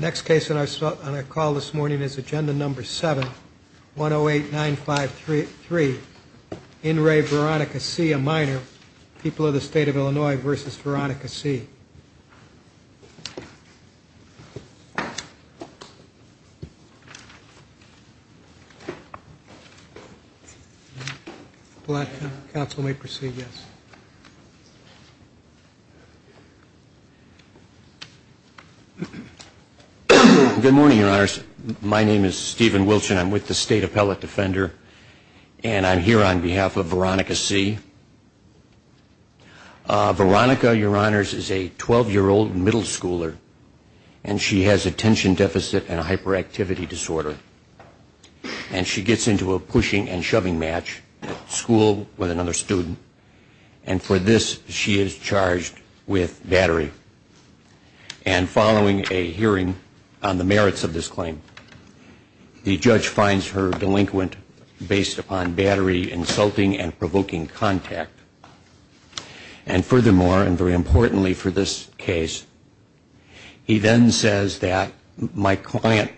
Next case that I saw on a call this morning is agenda number 7 1 0 8 9 5 3 3 in Ray Veronica see a minor people of the state of Illinois versus Veronica C Good morning, your honors. My name is Stephen Wilson. I'm with the state appellate defender and I'm here on behalf of Veronica C. Veronica your honors is a 12 year old middle schooler and she has attention deficit and hyperactivity disorder and she gets into a pushing and shoving match school with another student and for this she is charged with battery and following a hearing on the merits of this claim the judge finds her delinquent based upon battery insulting and provoking conduct. And furthermore and very importantly for this case he then says that my client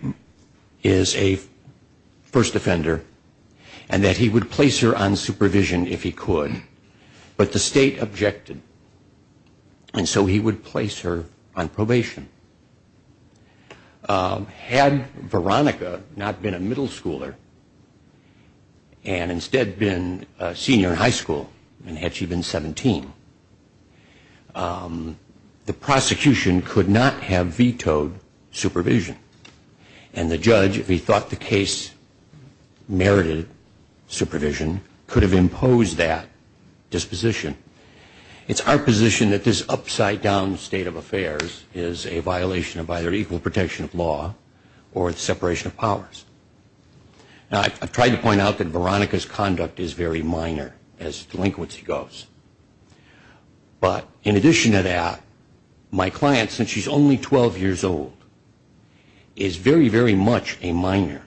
is a first offender and that he would place her on supervision if he could but the state objected and so he would place her on probation. Had Veronica not been a middle schooler and instead been a senior in high school and had she been 17 the prosecution could not have vetoed supervision and the judge if he thought the case merited supervision could have imposed that disposition. It's our position that this upside down state of affairs is a violation of either equal protection of law or separation of powers. Now I've tried to point out that Veronica's conduct is very minor as delinquency goes but in addition to that my client since she's only 12 years old is very very much a minor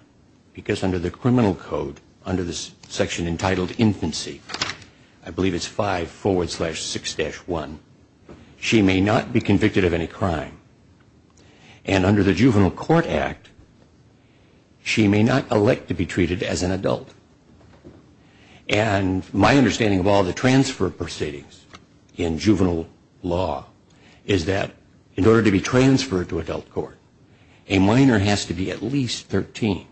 because under the criminal code under this section entitled infancy I believe it's 5 forward slash 6 dash 1 she may not be convicted of any crime. And under the juvenile court act she may not elect to be treated as an adult and my understanding of all the transfer proceedings in juvenile law is that in order to be transferred to adult court a minor has to be at least 13.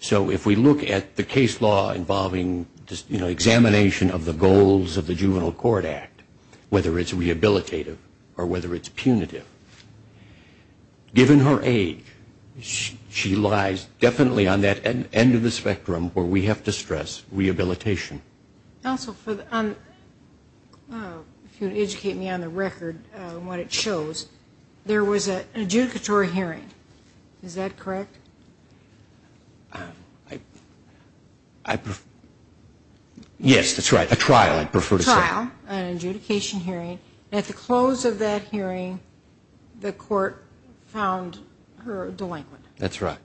So if we look at the case law involving examination of the goals of the juvenile court act whether it's rehabilitative or whether it's punitive given her age she lies definitely on that end of the spectrum where we have to stress rehabilitation. If you would educate me on the record what it shows there was an adjudicatory hearing is that correct? Yes that's right a trial I prefer to say. A trial an adjudication hearing at the close of that hearing the court found her delinquent. That's right.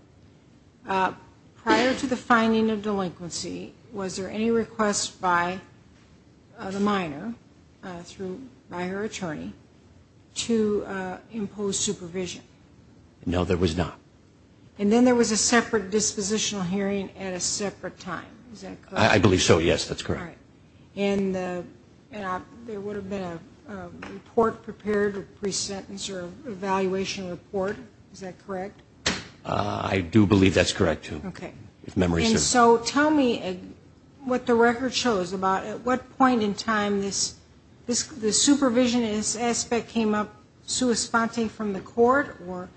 Prior to the finding of delinquency was there any request by the minor through by her attorney to impose supervision? No there was not. And then there was a separate dispositional hearing at a separate time is that correct? I believe so yes that's correct. And there would have been a report prepared a pre-sentence or evaluation report is that correct? I do believe that's correct too. Okay. If memory serves. And so tell me what the record shows about at what point in time this supervision aspect came up sui sponte from the court or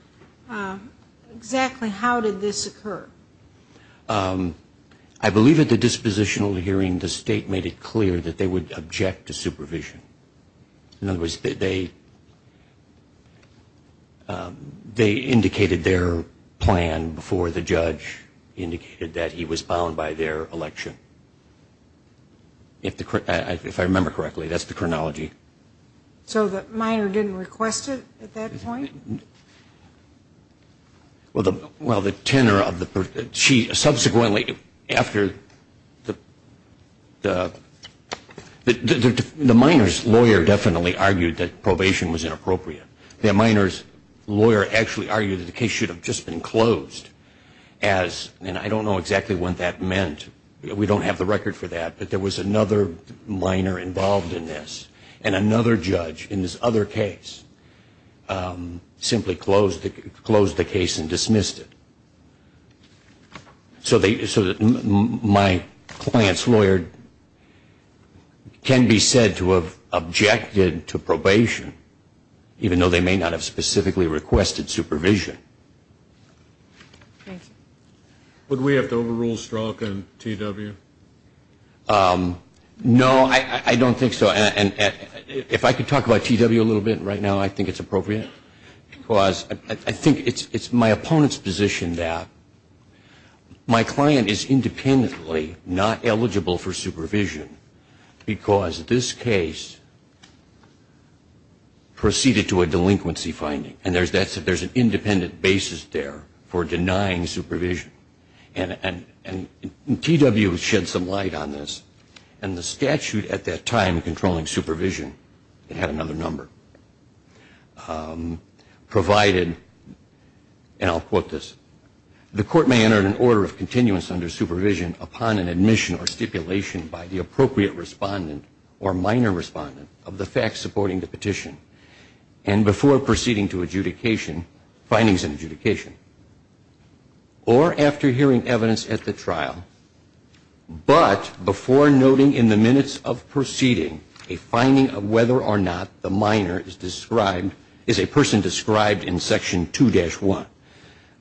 exactly how did this occur? I believe at the dispositional hearing the state made it clear that they would object to supervision. In other words they indicated their plan before the judge indicated that he was bound by their election. If I remember correctly that's the chronology. So the minor didn't request it at that point? Well the tenor of the she subsequently after the minor's lawyer definitely argued that probation was inappropriate. The minor's lawyer actually argued that the case should have just been closed as and I don't know exactly what that meant. We don't have the record for that. But there was another minor involved in this. And another judge in this other case simply closed the case and dismissed it. So my client's lawyer can be said to have objected to probation even though they may not have specifically requested supervision. Thank you. Would we have to overrule Strzok and TW? No, I don't think so. And if I could talk about TW a little bit right now I think it's appropriate. Because I think it's my opponent's position that my client is independently not eligible for supervision. Because this case proceeded to a delinquency finding. And there's an independent basis there for denying supervision. And TW shed some light on this. And the statute at that time controlling supervision, it had another number, provided and I'll quote this. The court may enter an order of continuance under supervision upon an admission or stipulation by the appropriate respondent or minor respondent of the facts supporting the petition. And before proceeding to adjudication, findings in adjudication. Or after hearing evidence at the trial, but before noting in the minutes of proceeding a finding of whether or not the minor is described, is a person described in Section 2-1.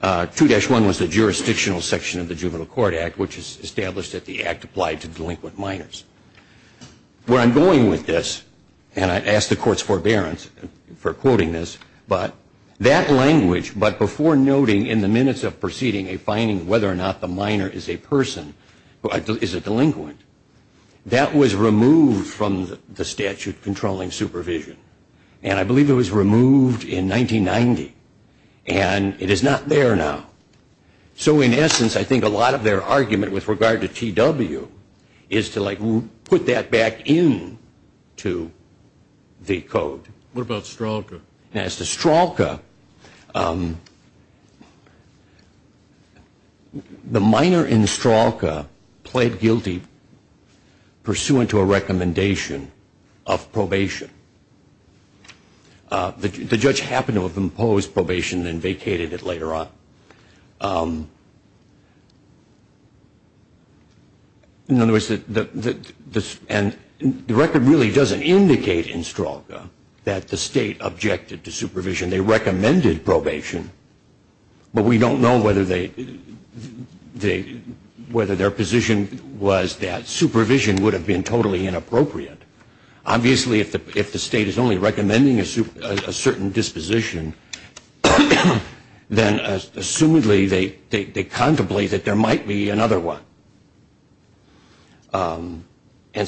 2-1 was the jurisdictional section of the Juvenile Court Act, which is established that the act applied to delinquent minors. Where I'm going with this, and I ask the court's forbearance for quoting this, but that language, but before noting in the minutes of proceeding a finding whether or not the minor is a person, is a delinquent. That was removed from the statute controlling supervision. And I believe it was removed in 1990. And it is not there now. So in essence, I think a lot of their argument with regard to TW is to like put that back into the code. What about Stralka? As to Stralka, the minor in Stralka pled guilty pursuant to a recommendation of probation. The judge happened to have imposed probation and vacated it later on. In other words, the record really doesn't indicate in Stralka that the state objected to supervision. They recommended probation. But we don't know whether their position was that supervision would have been totally inappropriate. Obviously, if the state is only recommending a certain disposition, then assumedly they contemplate that there might be another one. And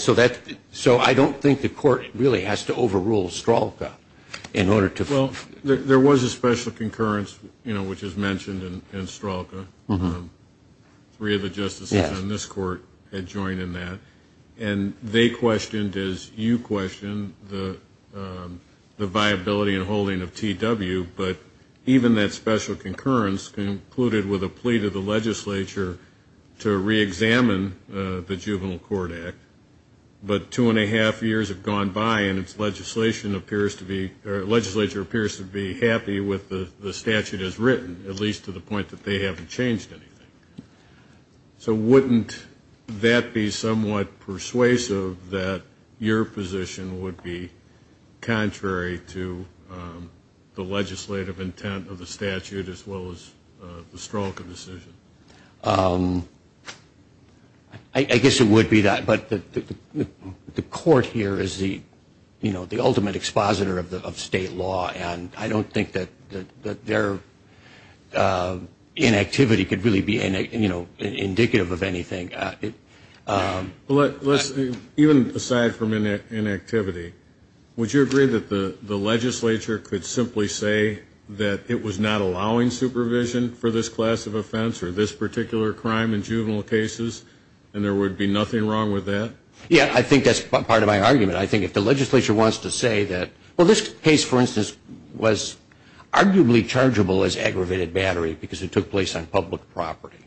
so I don't think the court really has to overrule Stralka in order to. Well, there was a special concurrence, you know, which is mentioned in Stralka. Three of the justices in this court had joined in that. And they questioned, as you questioned, the viability and holding of TW. But even that special concurrence concluded with a plea to the legislature to reexamine the Juvenile Court Act. But two and a half years have gone by, and the legislature appears to be happy with the statute as written, at least to the point that they haven't changed anything. So wouldn't that be somewhat persuasive, that your position would be contrary to the legislative intent of the statute as well as the Stralka decision? I guess it would be that. But the court here is the, you know, the ultimate expositor of state law. And I don't think that their inactivity could really be, you know, indicative of anything. Even aside from inactivity, would you agree that the legislature could simply say that it was not allowing supervision for this class of offense or this particular crime in juvenile cases and there would be nothing wrong with that? Yeah, I think that's part of my argument. I think if the legislature wants to say that, well, this case, for instance, was arguably chargeable as aggravated battery because it took place on public property.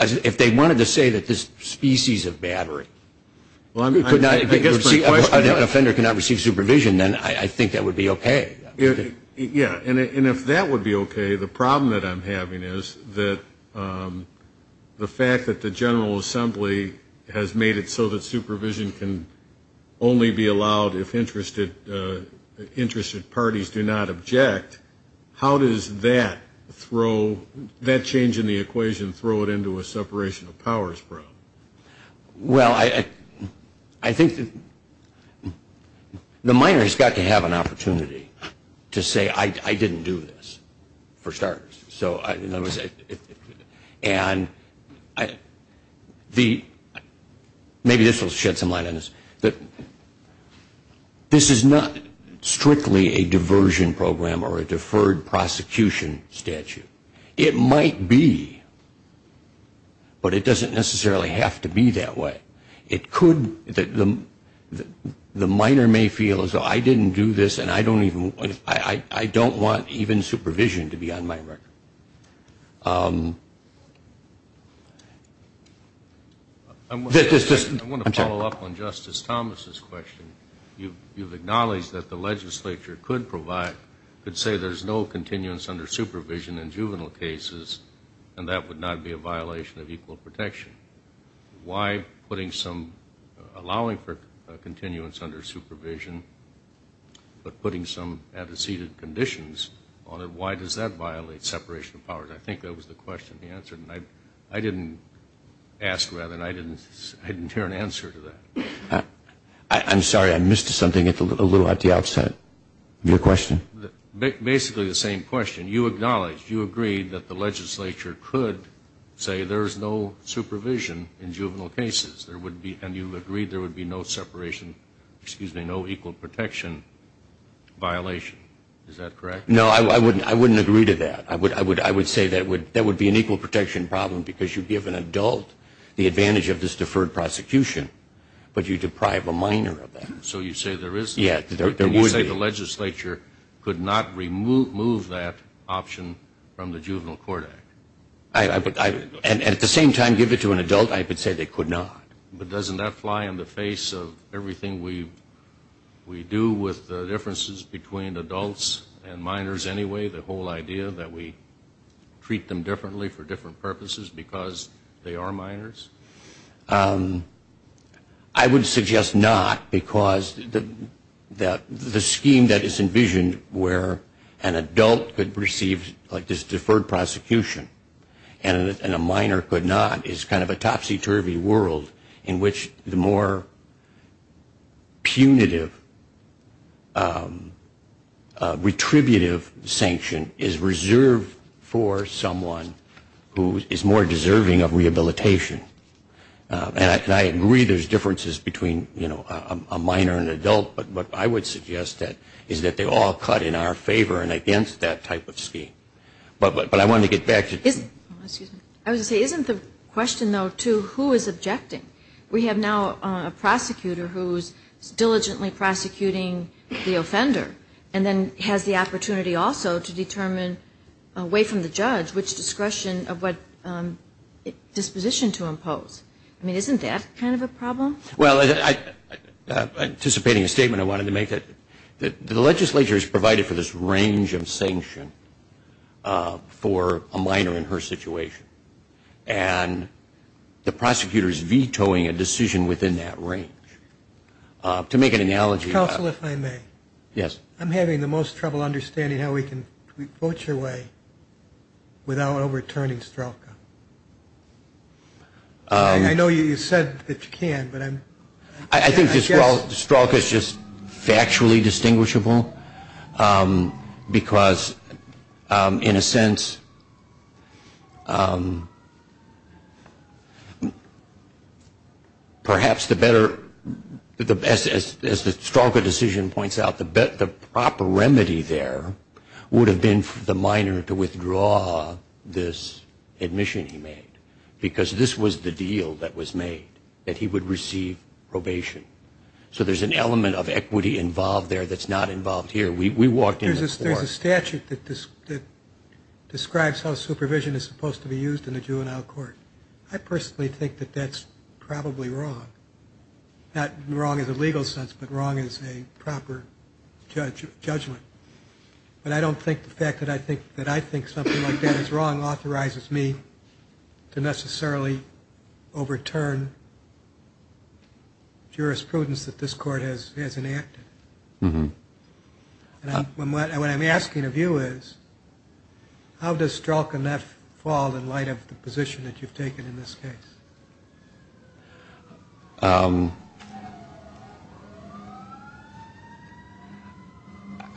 If they wanted to say that this species of battery could not, an offender cannot receive supervision, then I think that would be okay. Yeah, and if that would be okay, the problem that I'm having is that the fact that the General Assembly has made it so that supervision can only be allowed if interested parties do not object, how does that change in the equation throw it into a separation of powers problem? Well, I think the minor has got to have an opportunity to say, I didn't do this, for starters. And maybe this will shed some light on this. This is not strictly a diversion program or a deferred prosecution statute. It might be, but it doesn't necessarily have to be that way. It could, the minor may feel as though I didn't do this and I don't even, I don't want even supervision to be on my record. I want to follow up on Justice Thomas's question. You've acknowledged that the legislature could provide, could say there's no continuance under supervision in juvenile cases, and that would not be a violation of equal protection. Why putting some, allowing for continuance under supervision, but putting some antecedent conditions on it, why does that violate separation of powers? I think that was the question he answered. And I didn't ask, rather, and I didn't hear an answer to that. I'm sorry, I missed something a little at the outset of your question. Basically the same question. You acknowledged, you agreed that the legislature could say there's no supervision in juvenile cases. And you agreed there would be no separation, excuse me, no equal protection violation. Is that correct? No, I wouldn't agree to that. I would say that would be an equal protection problem because you give an adult the advantage of this deferred prosecution, but you deprive a minor of that. So you say there is, you say the legislature could not remove that option from the Juvenile Court Act. And at the same time give it to an adult, I would say they could not. But doesn't that fly in the face of everything we do with the differences between adults and minors anyway, the whole idea that we treat them differently for different purposes because they are minors? I would suggest not because the scheme that is envisioned where an adult could receive this deferred prosecution and a minor could not is kind of a topsy-turvy world in which the more punitive, retributive sanction is reserved for someone who is more deserving of rehabilitation. And I agree there's differences between, you know, a minor and an adult, but what I would suggest is that they all cut in our favor and against that type of scheme. But I wanted to get back to... Excuse me. I was going to say, isn't the question, though, too, who is objecting? We have now a prosecutor who is diligently prosecuting the offender and then has the opportunity also to determine away from the judge which discretion of what disposition to impose. I mean, isn't that kind of a problem? Well, anticipating a statement, I wanted to make that the legislature is provided for this range of sanction for a minor in her situation. And the prosecutor is vetoing a decision within that range. To make an analogy... Counsel, if I may. Yes. I'm having the most trouble understanding how we can vote your way without overturning Strelka. I know you said that you can, but I'm... I think Strelka is just factually distinguishable because, in a sense, perhaps the better, as the Strelka decision points out, the proper remedy there would have been for the minor to withdraw this admission he made because this was the deal that was made, that he would receive probation. So there's an element of equity involved there that's not involved here. We walked in... There's a statute that describes how supervision is supposed to be used in a juvenile court. I personally think that that's probably wrong, not wrong in the legal sense, but wrong as a proper judgment. But I don't think the fact that I think something like that is wrong authorizes me to necessarily overturn jurisprudence that this court has enacted. What I'm asking of you is, how does Strelka not fall in light of the position that you've taken in this case?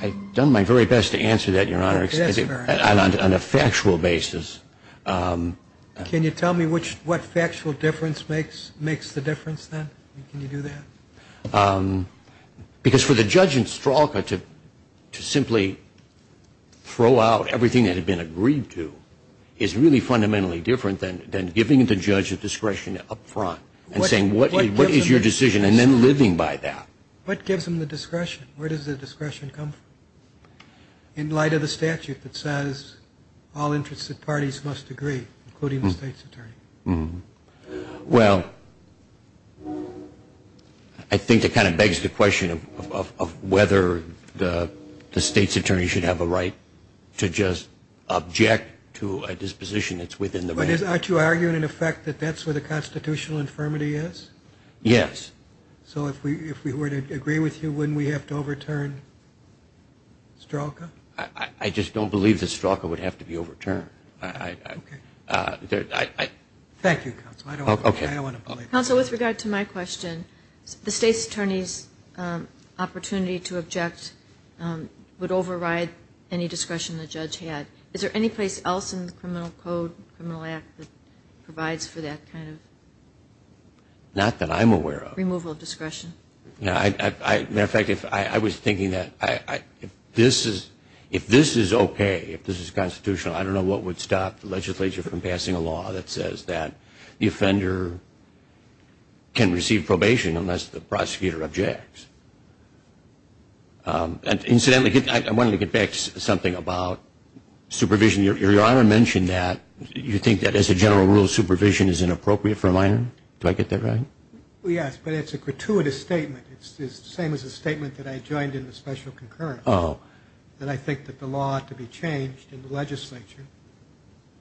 I've done my very best to answer that, Your Honor, on a factual basis. Can you tell me what factual difference makes the difference then? Can you do that? Because for the judge in Strelka to simply throw out everything that had been agreed to is really fundamentally different than giving the judge a discretion up front and saying, what is your decision, and then living by that. What gives them the discretion? Where does the discretion come from in light of the statute that says all interested parties must agree, including the state's attorney? Well, I think it kind of begs the question of whether the state's attorney should have a right to just object to a disposition that's within the law. But aren't you arguing, in effect, that that's where the constitutional infirmity is? Yes. So if we were to agree with you, wouldn't we have to overturn Strelka? I just don't believe that Strelka would have to be overturned. Thank you, counsel. I don't want to believe that. Counsel, with regard to my question, the state's attorney's opportunity to object would override any discretion the judge had. Is there any place else in the criminal code, criminal act that provides for that kind of removal of discretion? Not that I'm aware of. As a matter of fact, I was thinking that if this is okay, if this is constitutional, I don't know what would stop the legislature from passing a law that says that the offender can receive probation unless the prosecutor objects. Incidentally, I wanted to get back to something about supervision. Your Honor mentioned that you think that, as a general rule, supervision is inappropriate for a minor. Do I get that right? Yes, but it's a gratuitous statement. It's the same as the statement that I joined in the special concurrence, that I think that the law ought to be changed in the legislature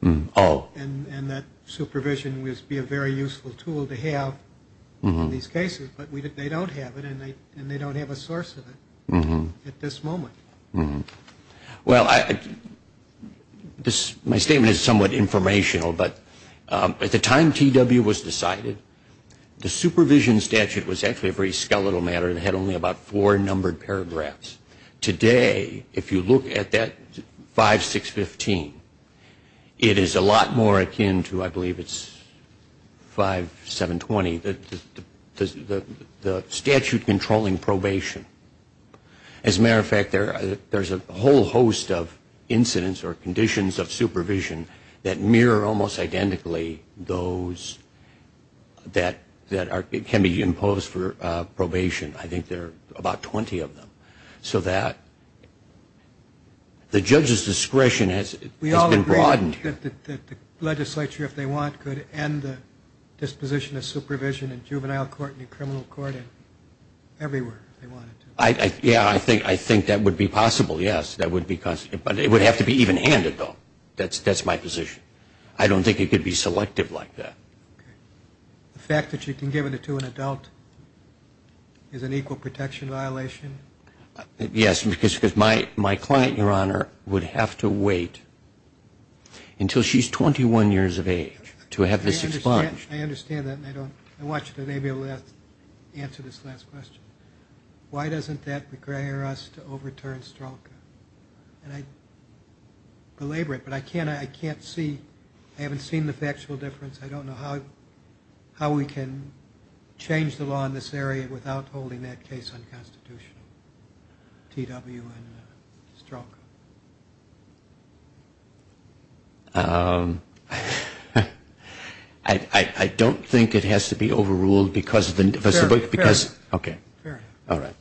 and that supervision would be a very useful tool to have in these cases. But they don't have it, and they don't have a source of it at this moment. Well, my statement is somewhat informational, but at the time TW was decided, the supervision statute was actually a very skeletal matter. It had only about four numbered paragraphs. Today, if you look at that 5.615, it is a lot more akin to, I believe it's 5.720, the statute controlling probation. As a matter of fact, there's a whole host of incidents or conditions of supervision that mirror almost identically those that can be imposed for probation. I think there are about 20 of them. So that the judge's discretion has been broadened. We all agree that the legislature, if they want, could end the disposition of supervision in juvenile court and in criminal court everywhere if they wanted to. Yeah, I think that would be possible, yes. But it would have to be even-handed, though. That's my position. I don't think it could be selective like that. The fact that you can give it to an adult is an equal protection violation? Yes, because my client, Your Honor, would have to wait until she's 21 years of age to have this expunged. I understand that. I want you to maybe answer this last question. Why doesn't that require us to overturn Strzok? And I belabor it, but I can't see. I haven't seen the factual difference. I don't know how we can change the law in this area without holding that case unconstitutional, T.W. and Strzok. I don't think it has to be overruled because of the- Fair enough. Okay. Fair enough. All right.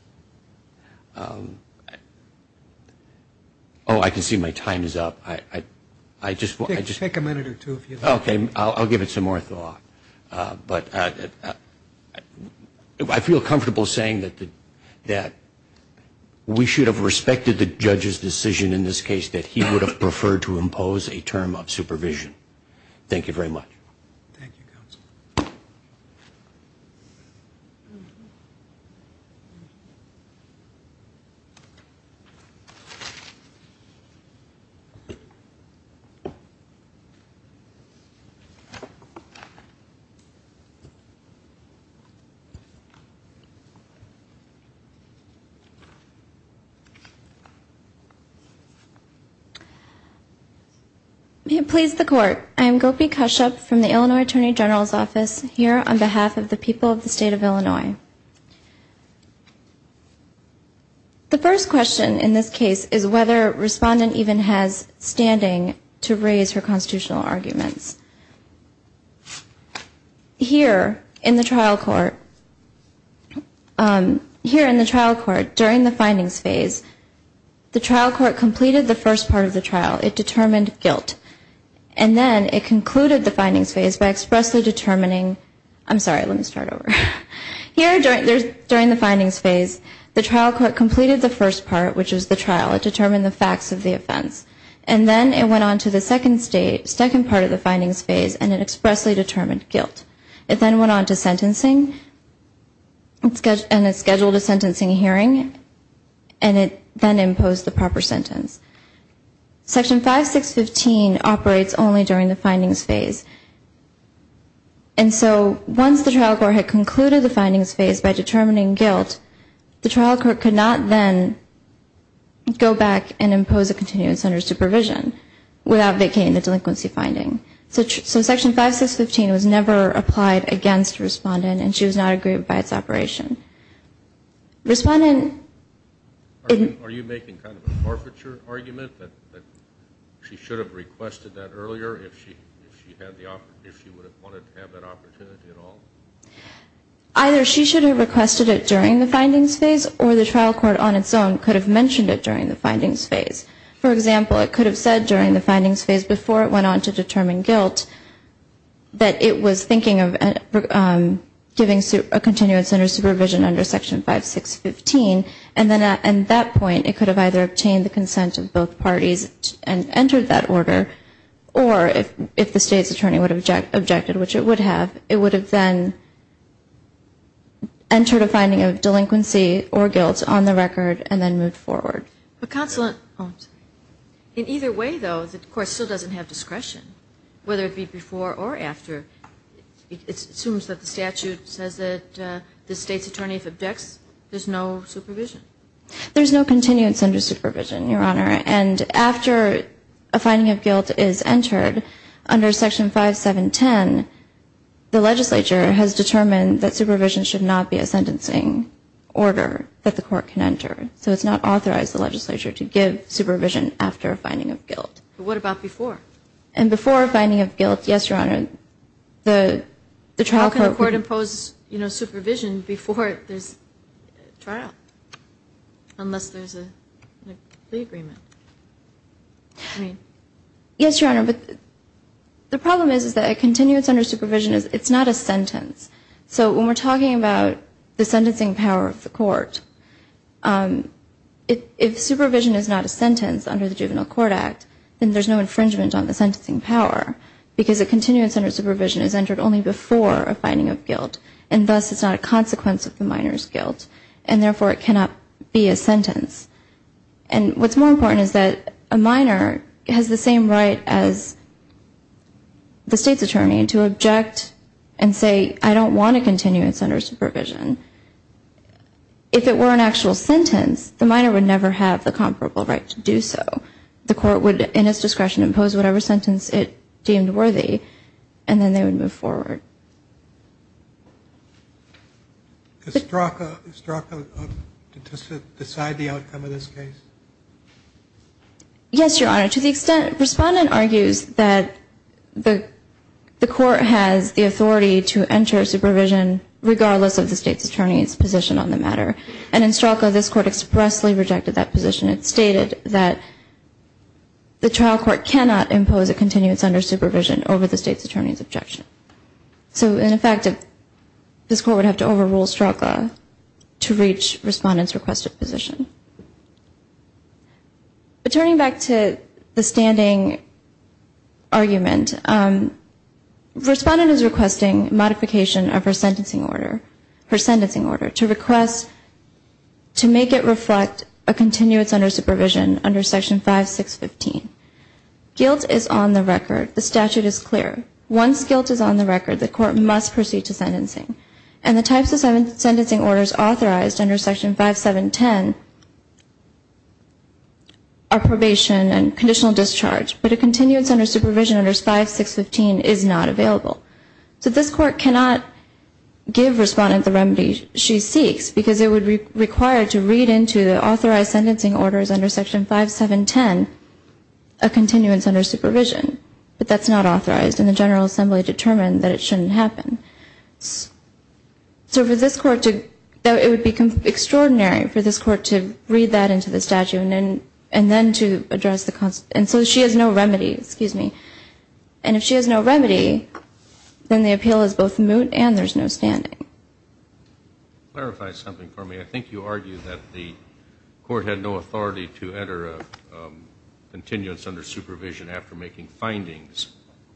Oh, I can see my time is up. Take a minute or two if you'd like. Okay. I'll give it some more thought, but I feel comfortable saying that we should have respected the judge's decision in this case that he would have preferred to impose a term of supervision. Thank you very much. Thank you, Counsel. May it please the Court. I am Gopi Kashyap from the Illinois Attorney General's Office here on behalf of the people of the State of Illinois. The first question in this case is whether a respondent even has standing to raise her constitutional arguments. Here in the trial court during the findings phase, the trial court completed the first part of the trial. It determined guilt. And then it concluded the findings phase by expressly determining-I'm sorry, let me start over. Here during the findings phase, the trial court completed the first part, which is the trial. It determined the facts of the offense. And then it went on to the second part of the findings phase, and it expressly determined guilt. It then went on to sentencing, and it scheduled a sentencing hearing, and it then imposed the proper sentence. Section 5615 operates only during the findings phase. And so once the trial court had concluded the findings phase by determining guilt, the trial court could not then go back and impose a continued sentence under supervision without vacating the delinquency finding. So Section 5615 was never applied against the respondent, and she was not aggrieved by its operation. Respondent- Are you making kind of a forfeiture argument that she should have requested that earlier if she would have wanted to have that opportunity at all? Either she should have requested it during the findings phase, or the trial court on its own could have mentioned it during the findings phase. For example, it could have said during the findings phase before it went on to determine guilt that it was thinking of giving a continued sentence under supervision under Section 5615, and then at that point it could have either obtained the consent of both parties and entered that order, or if the State's attorney would have objected, which it would have, it would have then entered a finding of delinquency or guilt on the record and then moved forward. In either way, though, the court still doesn't have discretion, whether it be before or after. It assumes that the statute says that the State's attorney, if it objects, there's no supervision. There's no continued sentence under supervision, Your Honor, and after a finding of guilt is entered under Section 5710, the legislature has determined that supervision should not be a sentencing order that the court can enter. So it's not authorized, the legislature, to give supervision after a finding of guilt. But what about before? And before a finding of guilt, yes, Your Honor, the trial court would... How can the court impose supervision before there's a trial, unless there's a plea agreement? Yes, Your Honor, but the problem is that a continued sentence under supervision, it's not a sentence. So when we're talking about the sentencing power of the court, if supervision is not a sentence under the Juvenile Court Act, then there's no infringement on the sentencing power, because a continued sentence under supervision is entered only before a finding of guilt, and thus it's not a consequence of the minor's guilt, and therefore it cannot be a sentence. And what's more important is that a minor has the same right as the State's attorney to object and say, I don't want a continued sentence under supervision. If it were an actual sentence, the minor would never have the comparable right to do so. The court would, in its discretion, impose whatever sentence it deemed worthy, and then they would move forward. Does Strzok decide the outcome of this case? Yes, Your Honor. To the extent, Respondent argues that the court has the authority to enter supervision, regardless of the State's attorney's position on the matter, and in Strzok, this court expressly rejected that position. It stated that the trial court cannot impose a continued sentence under supervision over the State's attorney's objection. So in effect, this court would have to overrule Strzok to reach Respondent's requested position. But turning back to the standing argument, Respondent is requesting modification of her sentencing order, her sentencing order, to request to make it reflect a continued sentence under supervision under Section 5.6.15. Guilt is on the record. The statute is clear. Once guilt is on the record, the court must proceed to sentencing. And the types of sentencing orders authorized under Section 5.7.10 are probation and conditional discharge. But a continued sentence under supervision under 5.6.15 is not available. So this court cannot give Respondent the remedy she seeks, because it would require to read into the authorized sentencing orders under Section 5.7.10, a continued sentence under supervision. But that's not authorized, and the General Assembly determined that it shouldn't happen. So for this court to, it would be extraordinary for this court to read that into the statute and then to address the, and so she has no remedy, excuse me. And if she has no remedy, then the appeal is both moot and there's no standing. Clarify something for me. I think you argued that the court had no authority to enter a continuance under supervision after making findings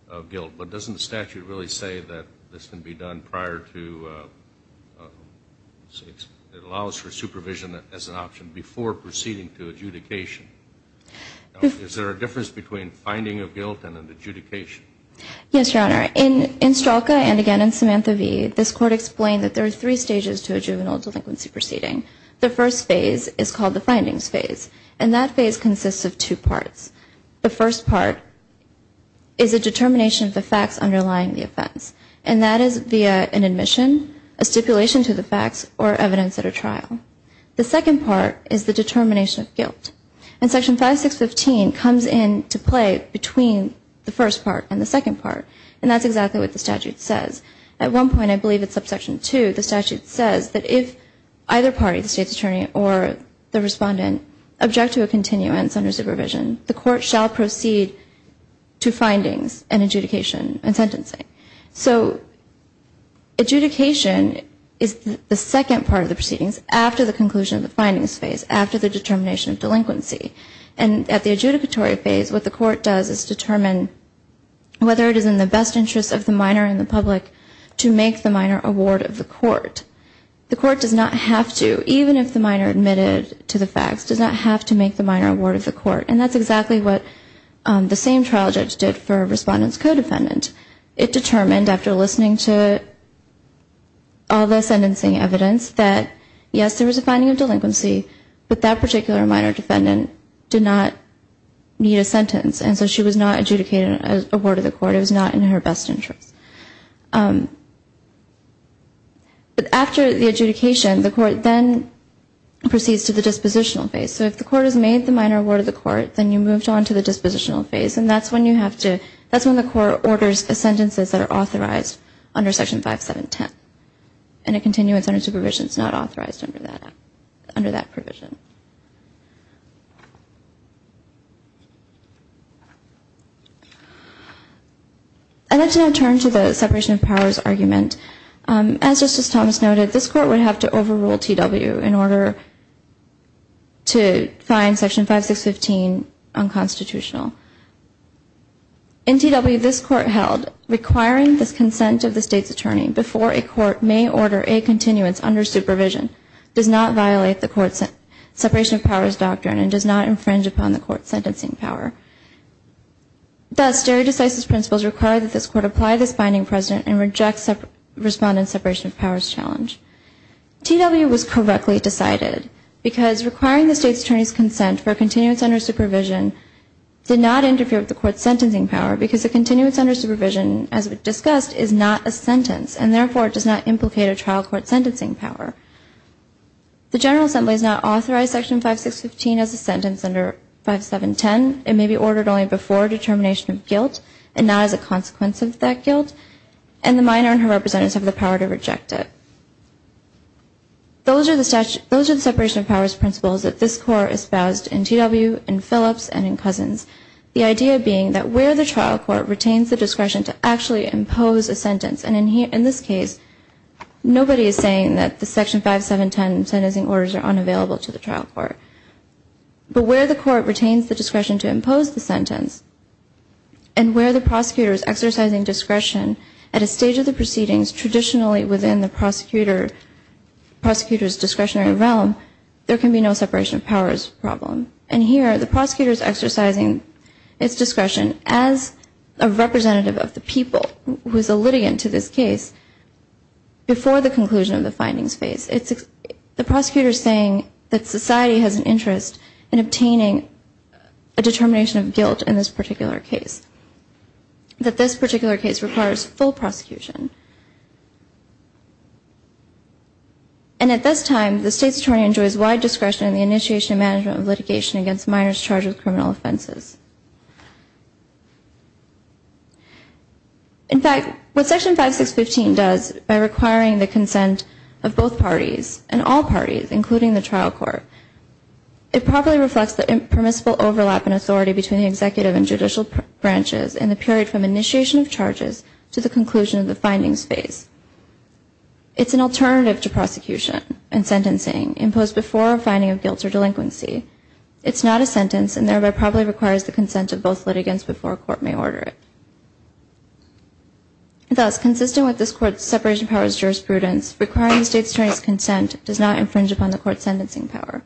of guilt. But doesn't the statute really say that this can be done prior to, it allows for supervision as an option before proceeding to adjudication? Is there a difference between finding of guilt and an adjudication? Yes, Your Honor. In Strelka, and again in Samantha v., this court explained that there are three stages to a juvenile delinquency proceeding. The first phase is called the findings phase, and that phase consists of two parts. The first part is a determination of the facts underlying the offense, and that is via an admission, a stipulation to the facts, or evidence at a trial. The second part is the determination of guilt. And Section 5615 comes into play between the first part and the second part, and that's exactly what the statute says. At one point, I believe it's subsection 2, the statute says that if either party, the State's attorney or the respondent, object to a continuance under supervision, the court shall proceed to findings and adjudication and sentencing. So adjudication is the second part of the proceedings after the conclusion of the findings phase, after the determination of delinquency. And at the adjudicatory phase, what the court does is determine whether it is in the best interest of the minor and the public to make the minor a ward of the court. The court does not have to, even if the minor admitted to the facts, does not have to make the minor a ward of the court. And that's exactly what the same trial judge did for a respondent's co-defendant. It determined, after listening to all the sentencing evidence, that yes, there was a finding of delinquency, but that particular minor defendant did not need a sentence, and so she was not adjudicated a ward of the court. It was not in her best interest. But after the adjudication, the court then proceeds to the dispositional phase. So if the court has made the minor a ward of the court, then you moved on to the dispositional phase, and that's when you have to, that's when the court orders the sentences that are authorized under Section 5710. And a continuance under supervision is not authorized under that provision. I'd like to now turn to the separation of powers argument. As Justice Thomas noted, this court would have to overrule T.W. in order to find Section 5615 unconstitutional. In T.W., this court held requiring the consent of the state's attorney before a court may order a continuance under supervision does not violate the court's sentence. T.W. was correctly decided, because requiring the state's attorney's consent for a continuance under supervision did not interfere with the court's sentencing power, because a continuance under supervision, as we've discussed, is not a sentence, and therefore it does not implicate a trial court sentencing power. Those are the separation of powers principles that this court espoused in T.W., in Phillips, and in Cousins, the idea being that where the trial court retains the discretion to actually impose a sentence, and in this case, nobody is saying that the Section 5710 sentencing orders are unavailable to the trial court. But where the court retains the discretion to impose the sentence, and where the prosecutor is exercising discretion at a stage of the proceedings traditionally within the prosecutor's discretionary realm, there can be no separation of powers problem. And here, the prosecutor is exercising its discretion as a representative of the people who is a litigant to this case before the conclusion of the findings phase. The prosecutor is saying that society has an interest in obtaining a determination of guilt in this particular case, that this particular case requires full prosecution. And at this time, the State's Attorney enjoys wide discretion in the initiation and management of litigation against minors charged with criminal offenses. In fact, what Section 5615 does by requiring the consent of both parties and all parties, including the trial court, it properly reflects the impermissible overlap in authority between the executive and judicial branches in the period from initiation of charges to the conclusion of the findings phase. It's an alternative to prosecution and sentencing imposed before a finding of guilt or delinquency. It's not a sentence and thereby probably requires the consent of both litigants before a court may order it. Thus, consistent with this court's separation of powers jurisprudence, requiring the State's Attorney's consent does not infringe upon the court's sentencing power.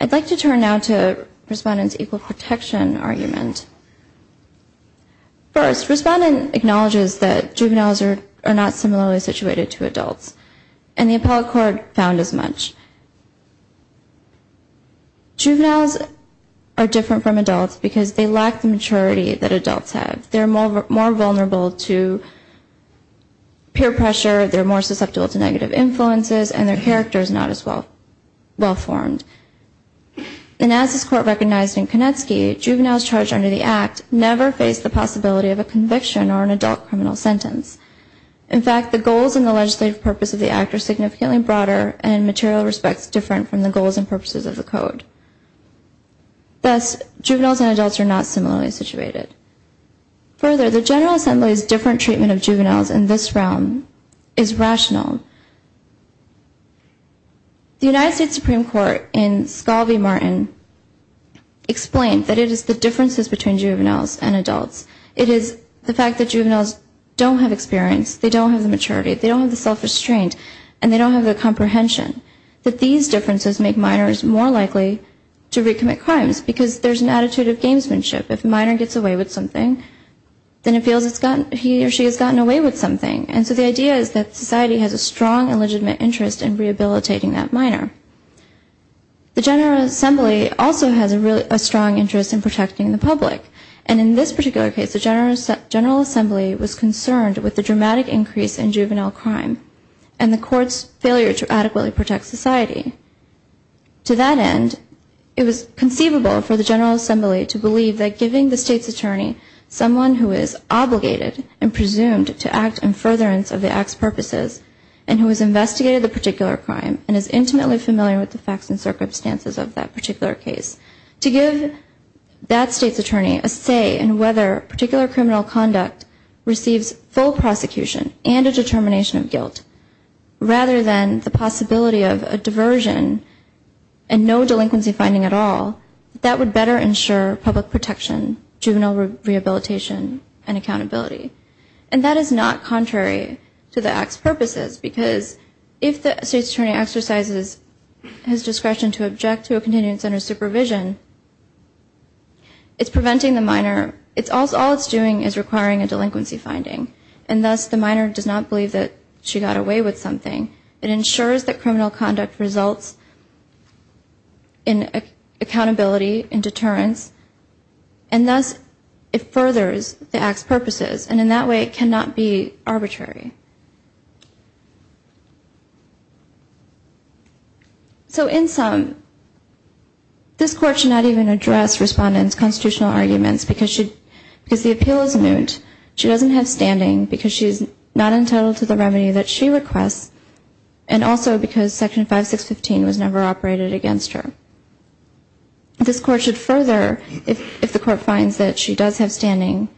I'd like to turn now to Respondent's equal protection argument. First, Respondent acknowledges that juveniles are not similarly situated to adults, and the appellate court found as much. Juveniles are different from adults because they lack the maturity that adults have. They're more vulnerable to peer pressure, they're more susceptible to negative influences, and their character is not as well-formed. And as this court recognized in Konetsky, juveniles charged under the Act never face the possibility of a conviction or an adult criminal sentence. In fact, the goals and the legislative purpose of the Act are significantly broader and material respects different from the goals and purposes of the Code. Thus, juveniles and adults are not similarly situated. Further, the General Assembly's different treatment of juveniles in this realm is rational. The United States Supreme Court in Scalvi-Martin explained that it is the differences between juveniles and adults. It is the fact that juveniles don't have experience, they don't have the maturity, they don't have the self-restraint, and they don't have the comprehension, that these differences make minors more likely to recommit crimes because there's an attitude of gamesmanship. If a minor gets away with something, then it feels he or she has gotten away with something. And so the idea is that society has a strong and legitimate interest in rehabilitating that minor. The General Assembly also has a strong interest in protecting the public. And in this particular case, the General Assembly was concerned with the dramatic increase in juvenile crime and the court's failure to adequately protect society. To that end, it was conceivable for the General Assembly to believe that giving the state's attorney someone who is obligated and presumed to act in furtherance of the act's purposes and who has investigated the particular crime and is intimately familiar with the facts and circumstances of that particular case, to give that state's attorney a say in whether particular criminal conduct receives full prosecution and a determination of guilt, rather than the possibility of a diversion and no delinquency finding at all, that that would better ensure public protection, juvenile rehabilitation, and accountability. And that is not contrary to the act's purposes, because if the state's attorney exercises his discretion to object to a contingent center's supervision, it's preventing the minor. All it's doing is requiring a delinquency finding, and thus the minor does not believe that she got away with something. It ensures that criminal conduct results in accountability and deterrence, and thus it furthers the act's purposes. And in that way, it cannot be arbitrary. So in sum, this Court should not even address Respondent's constitutional arguments, because the appeal is moot. She doesn't have standing because she's not entitled to the remedy that she requests, and also because Section 5615 was never operated against her. This Court should further, if the Court finds that she does have standing,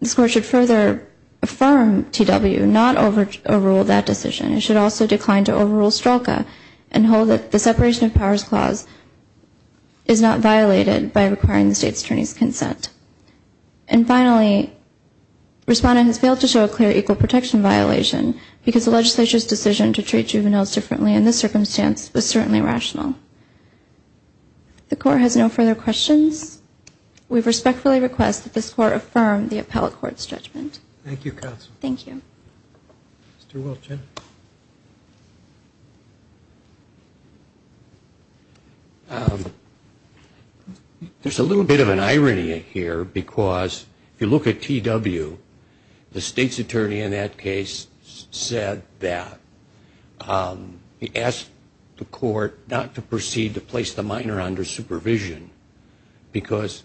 this Court should further affirm T.W. not overrule that decision. It should also decline to overrule Strzoka and hold that the separation of powers clause is not violated by requiring the state's attorney's consent. And finally, Respondent has failed to show a clear equal protection violation, because the legislature's decision to treat juveniles differently in this circumstance was certainly rational. The Court has no further questions. We respectfully request that this Court affirm the Appellate Court's judgment. Thank you, Counsel. Thank you. There's a little bit of an irony here, because if you look at T.W., the state's attorney in that case said that, he asked the Court not to proceed to place the minor under supervision, because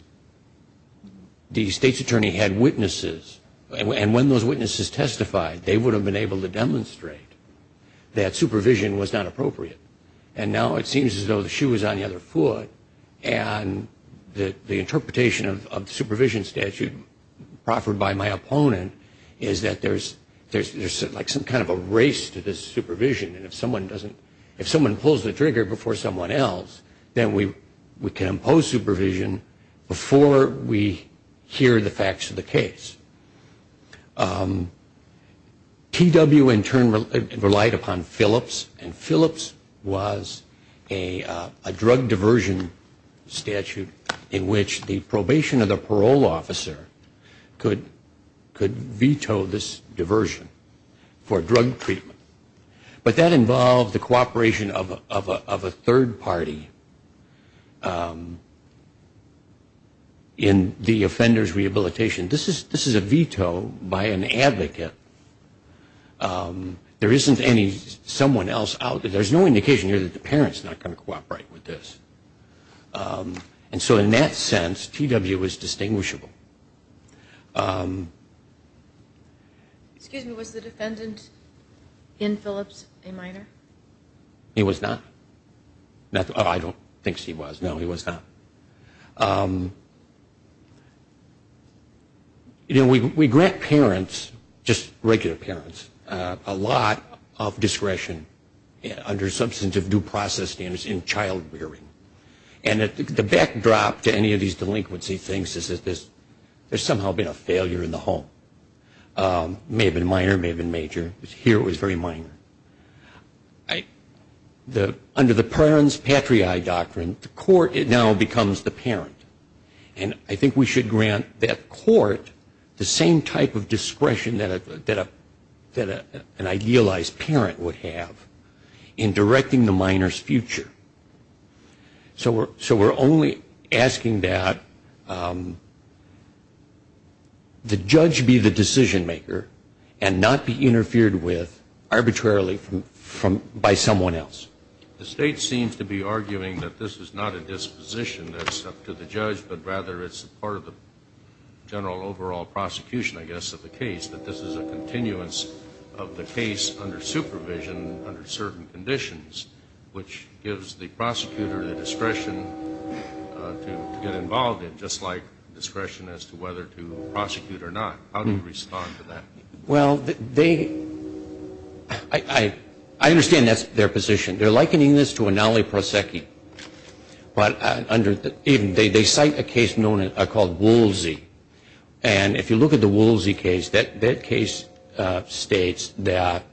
the state's attorney had witnesses, and when those witnesses testified, they would have been able to demonstrate that supervision was not appropriate. And now it seems as though the shoe is on the other foot, and the interpretation of the supervision statute proffered by my opponent is that there's like some kind of a race to this supervision, and if someone pulls the trigger before someone else, then we can impose supervision before we hear the facts of the case. T.W. in turn relied upon Phillips, and Phillips was a drug diversion statute in which the probation or the parole officer could veto this diversion for drug treatment. But that involved the cooperation of a third party in the offender's rehabilitation. There isn't any someone else out there. There's no indication here that the parents are not going to cooperate with this. And so in that sense, T.W. is distinguishable. Excuse me, was the defendant in Phillips a minor? He was not. I don't think he was. No, he was not. You know, we grant parents, just regular parents, a lot of discretion under substantive due process standards in child rearing. And the backdrop to any of these delinquency things is that there's somehow been a failure in the home. May have been minor, may have been major. Here it was very minor. Under the parent's patriae doctrine, the court now becomes the parent. And I think we should grant that court the same type of discretion that an idealized parent would have in directing the minor's future. So we're only asking that the judge be the decision maker and not be interfered with arbitrarily by someone else. The state seems to be arguing that this is not a disposition that's up to the judge, but rather it's part of the general overall prosecution, I guess, of the case, that this is a continuance of the case under supervision under certain conditions, which gives the prosecutor the discretion to get involved in, just like discretion as to whether to prosecute or not. How do you respond to that? Well, they – I understand that's their position. They're likening this to a naliproseki. But they cite a case called Woolsey. And if you look at the Woolsey case, that case states that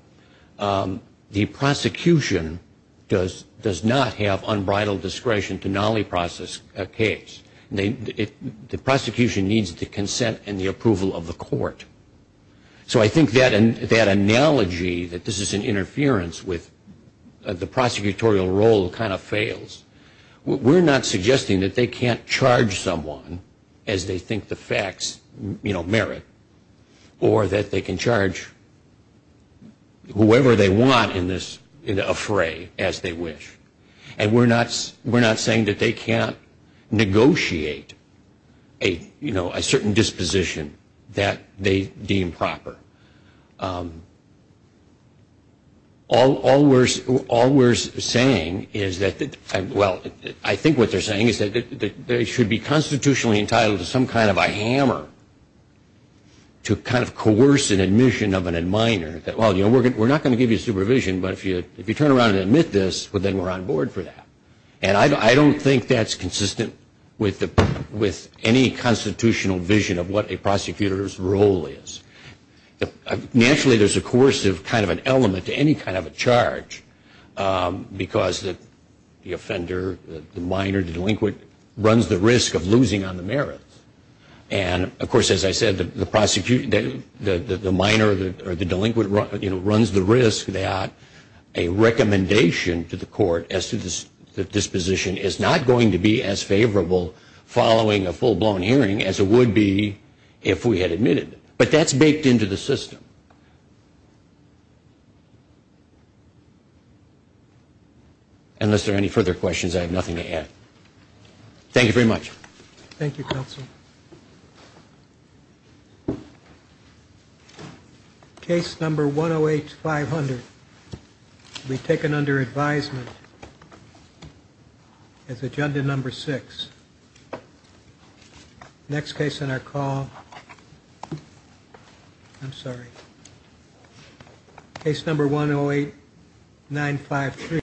the prosecution does not have unbridled discretion to naliproseki a case. The prosecution needs the consent and the approval of the court. So I think that analogy that this is an interference with the prosecutorial role kind of fails. We're not suggesting that they can't charge someone as they think the facts merit or that they can charge whoever they want in this affray as they wish. And we're not saying that they can't negotiate a certain disposition that they deem proper. All we're saying is that – well, I think what they're saying is that they should be constitutionally entitled to some kind of a hammer to kind of coerce an admission of an ad minor, that, well, you know, we're not going to give you supervision, but if you turn around and admit this, then we're on board for that. And I don't think that's consistent with any constitutional vision of what a prosecutor's role is. Naturally, there's a coercive kind of an element to any kind of a charge because the offender, the minor, the delinquent, runs the risk of losing on the merits. And, of course, as I said, the minor or the delinquent, you know, runs the risk that a recommendation to the court as to the disposition is not going to be as favorable following a full-blown hearing as it would be if we had admitted. But that's baked into the system. Unless there are any further questions, I have nothing to add. Thank you very much. Thank you, Counsel. Case number 108-500 will be taken under advisement as agenda number 6. Next case on our call, I'm sorry, case number 108-953.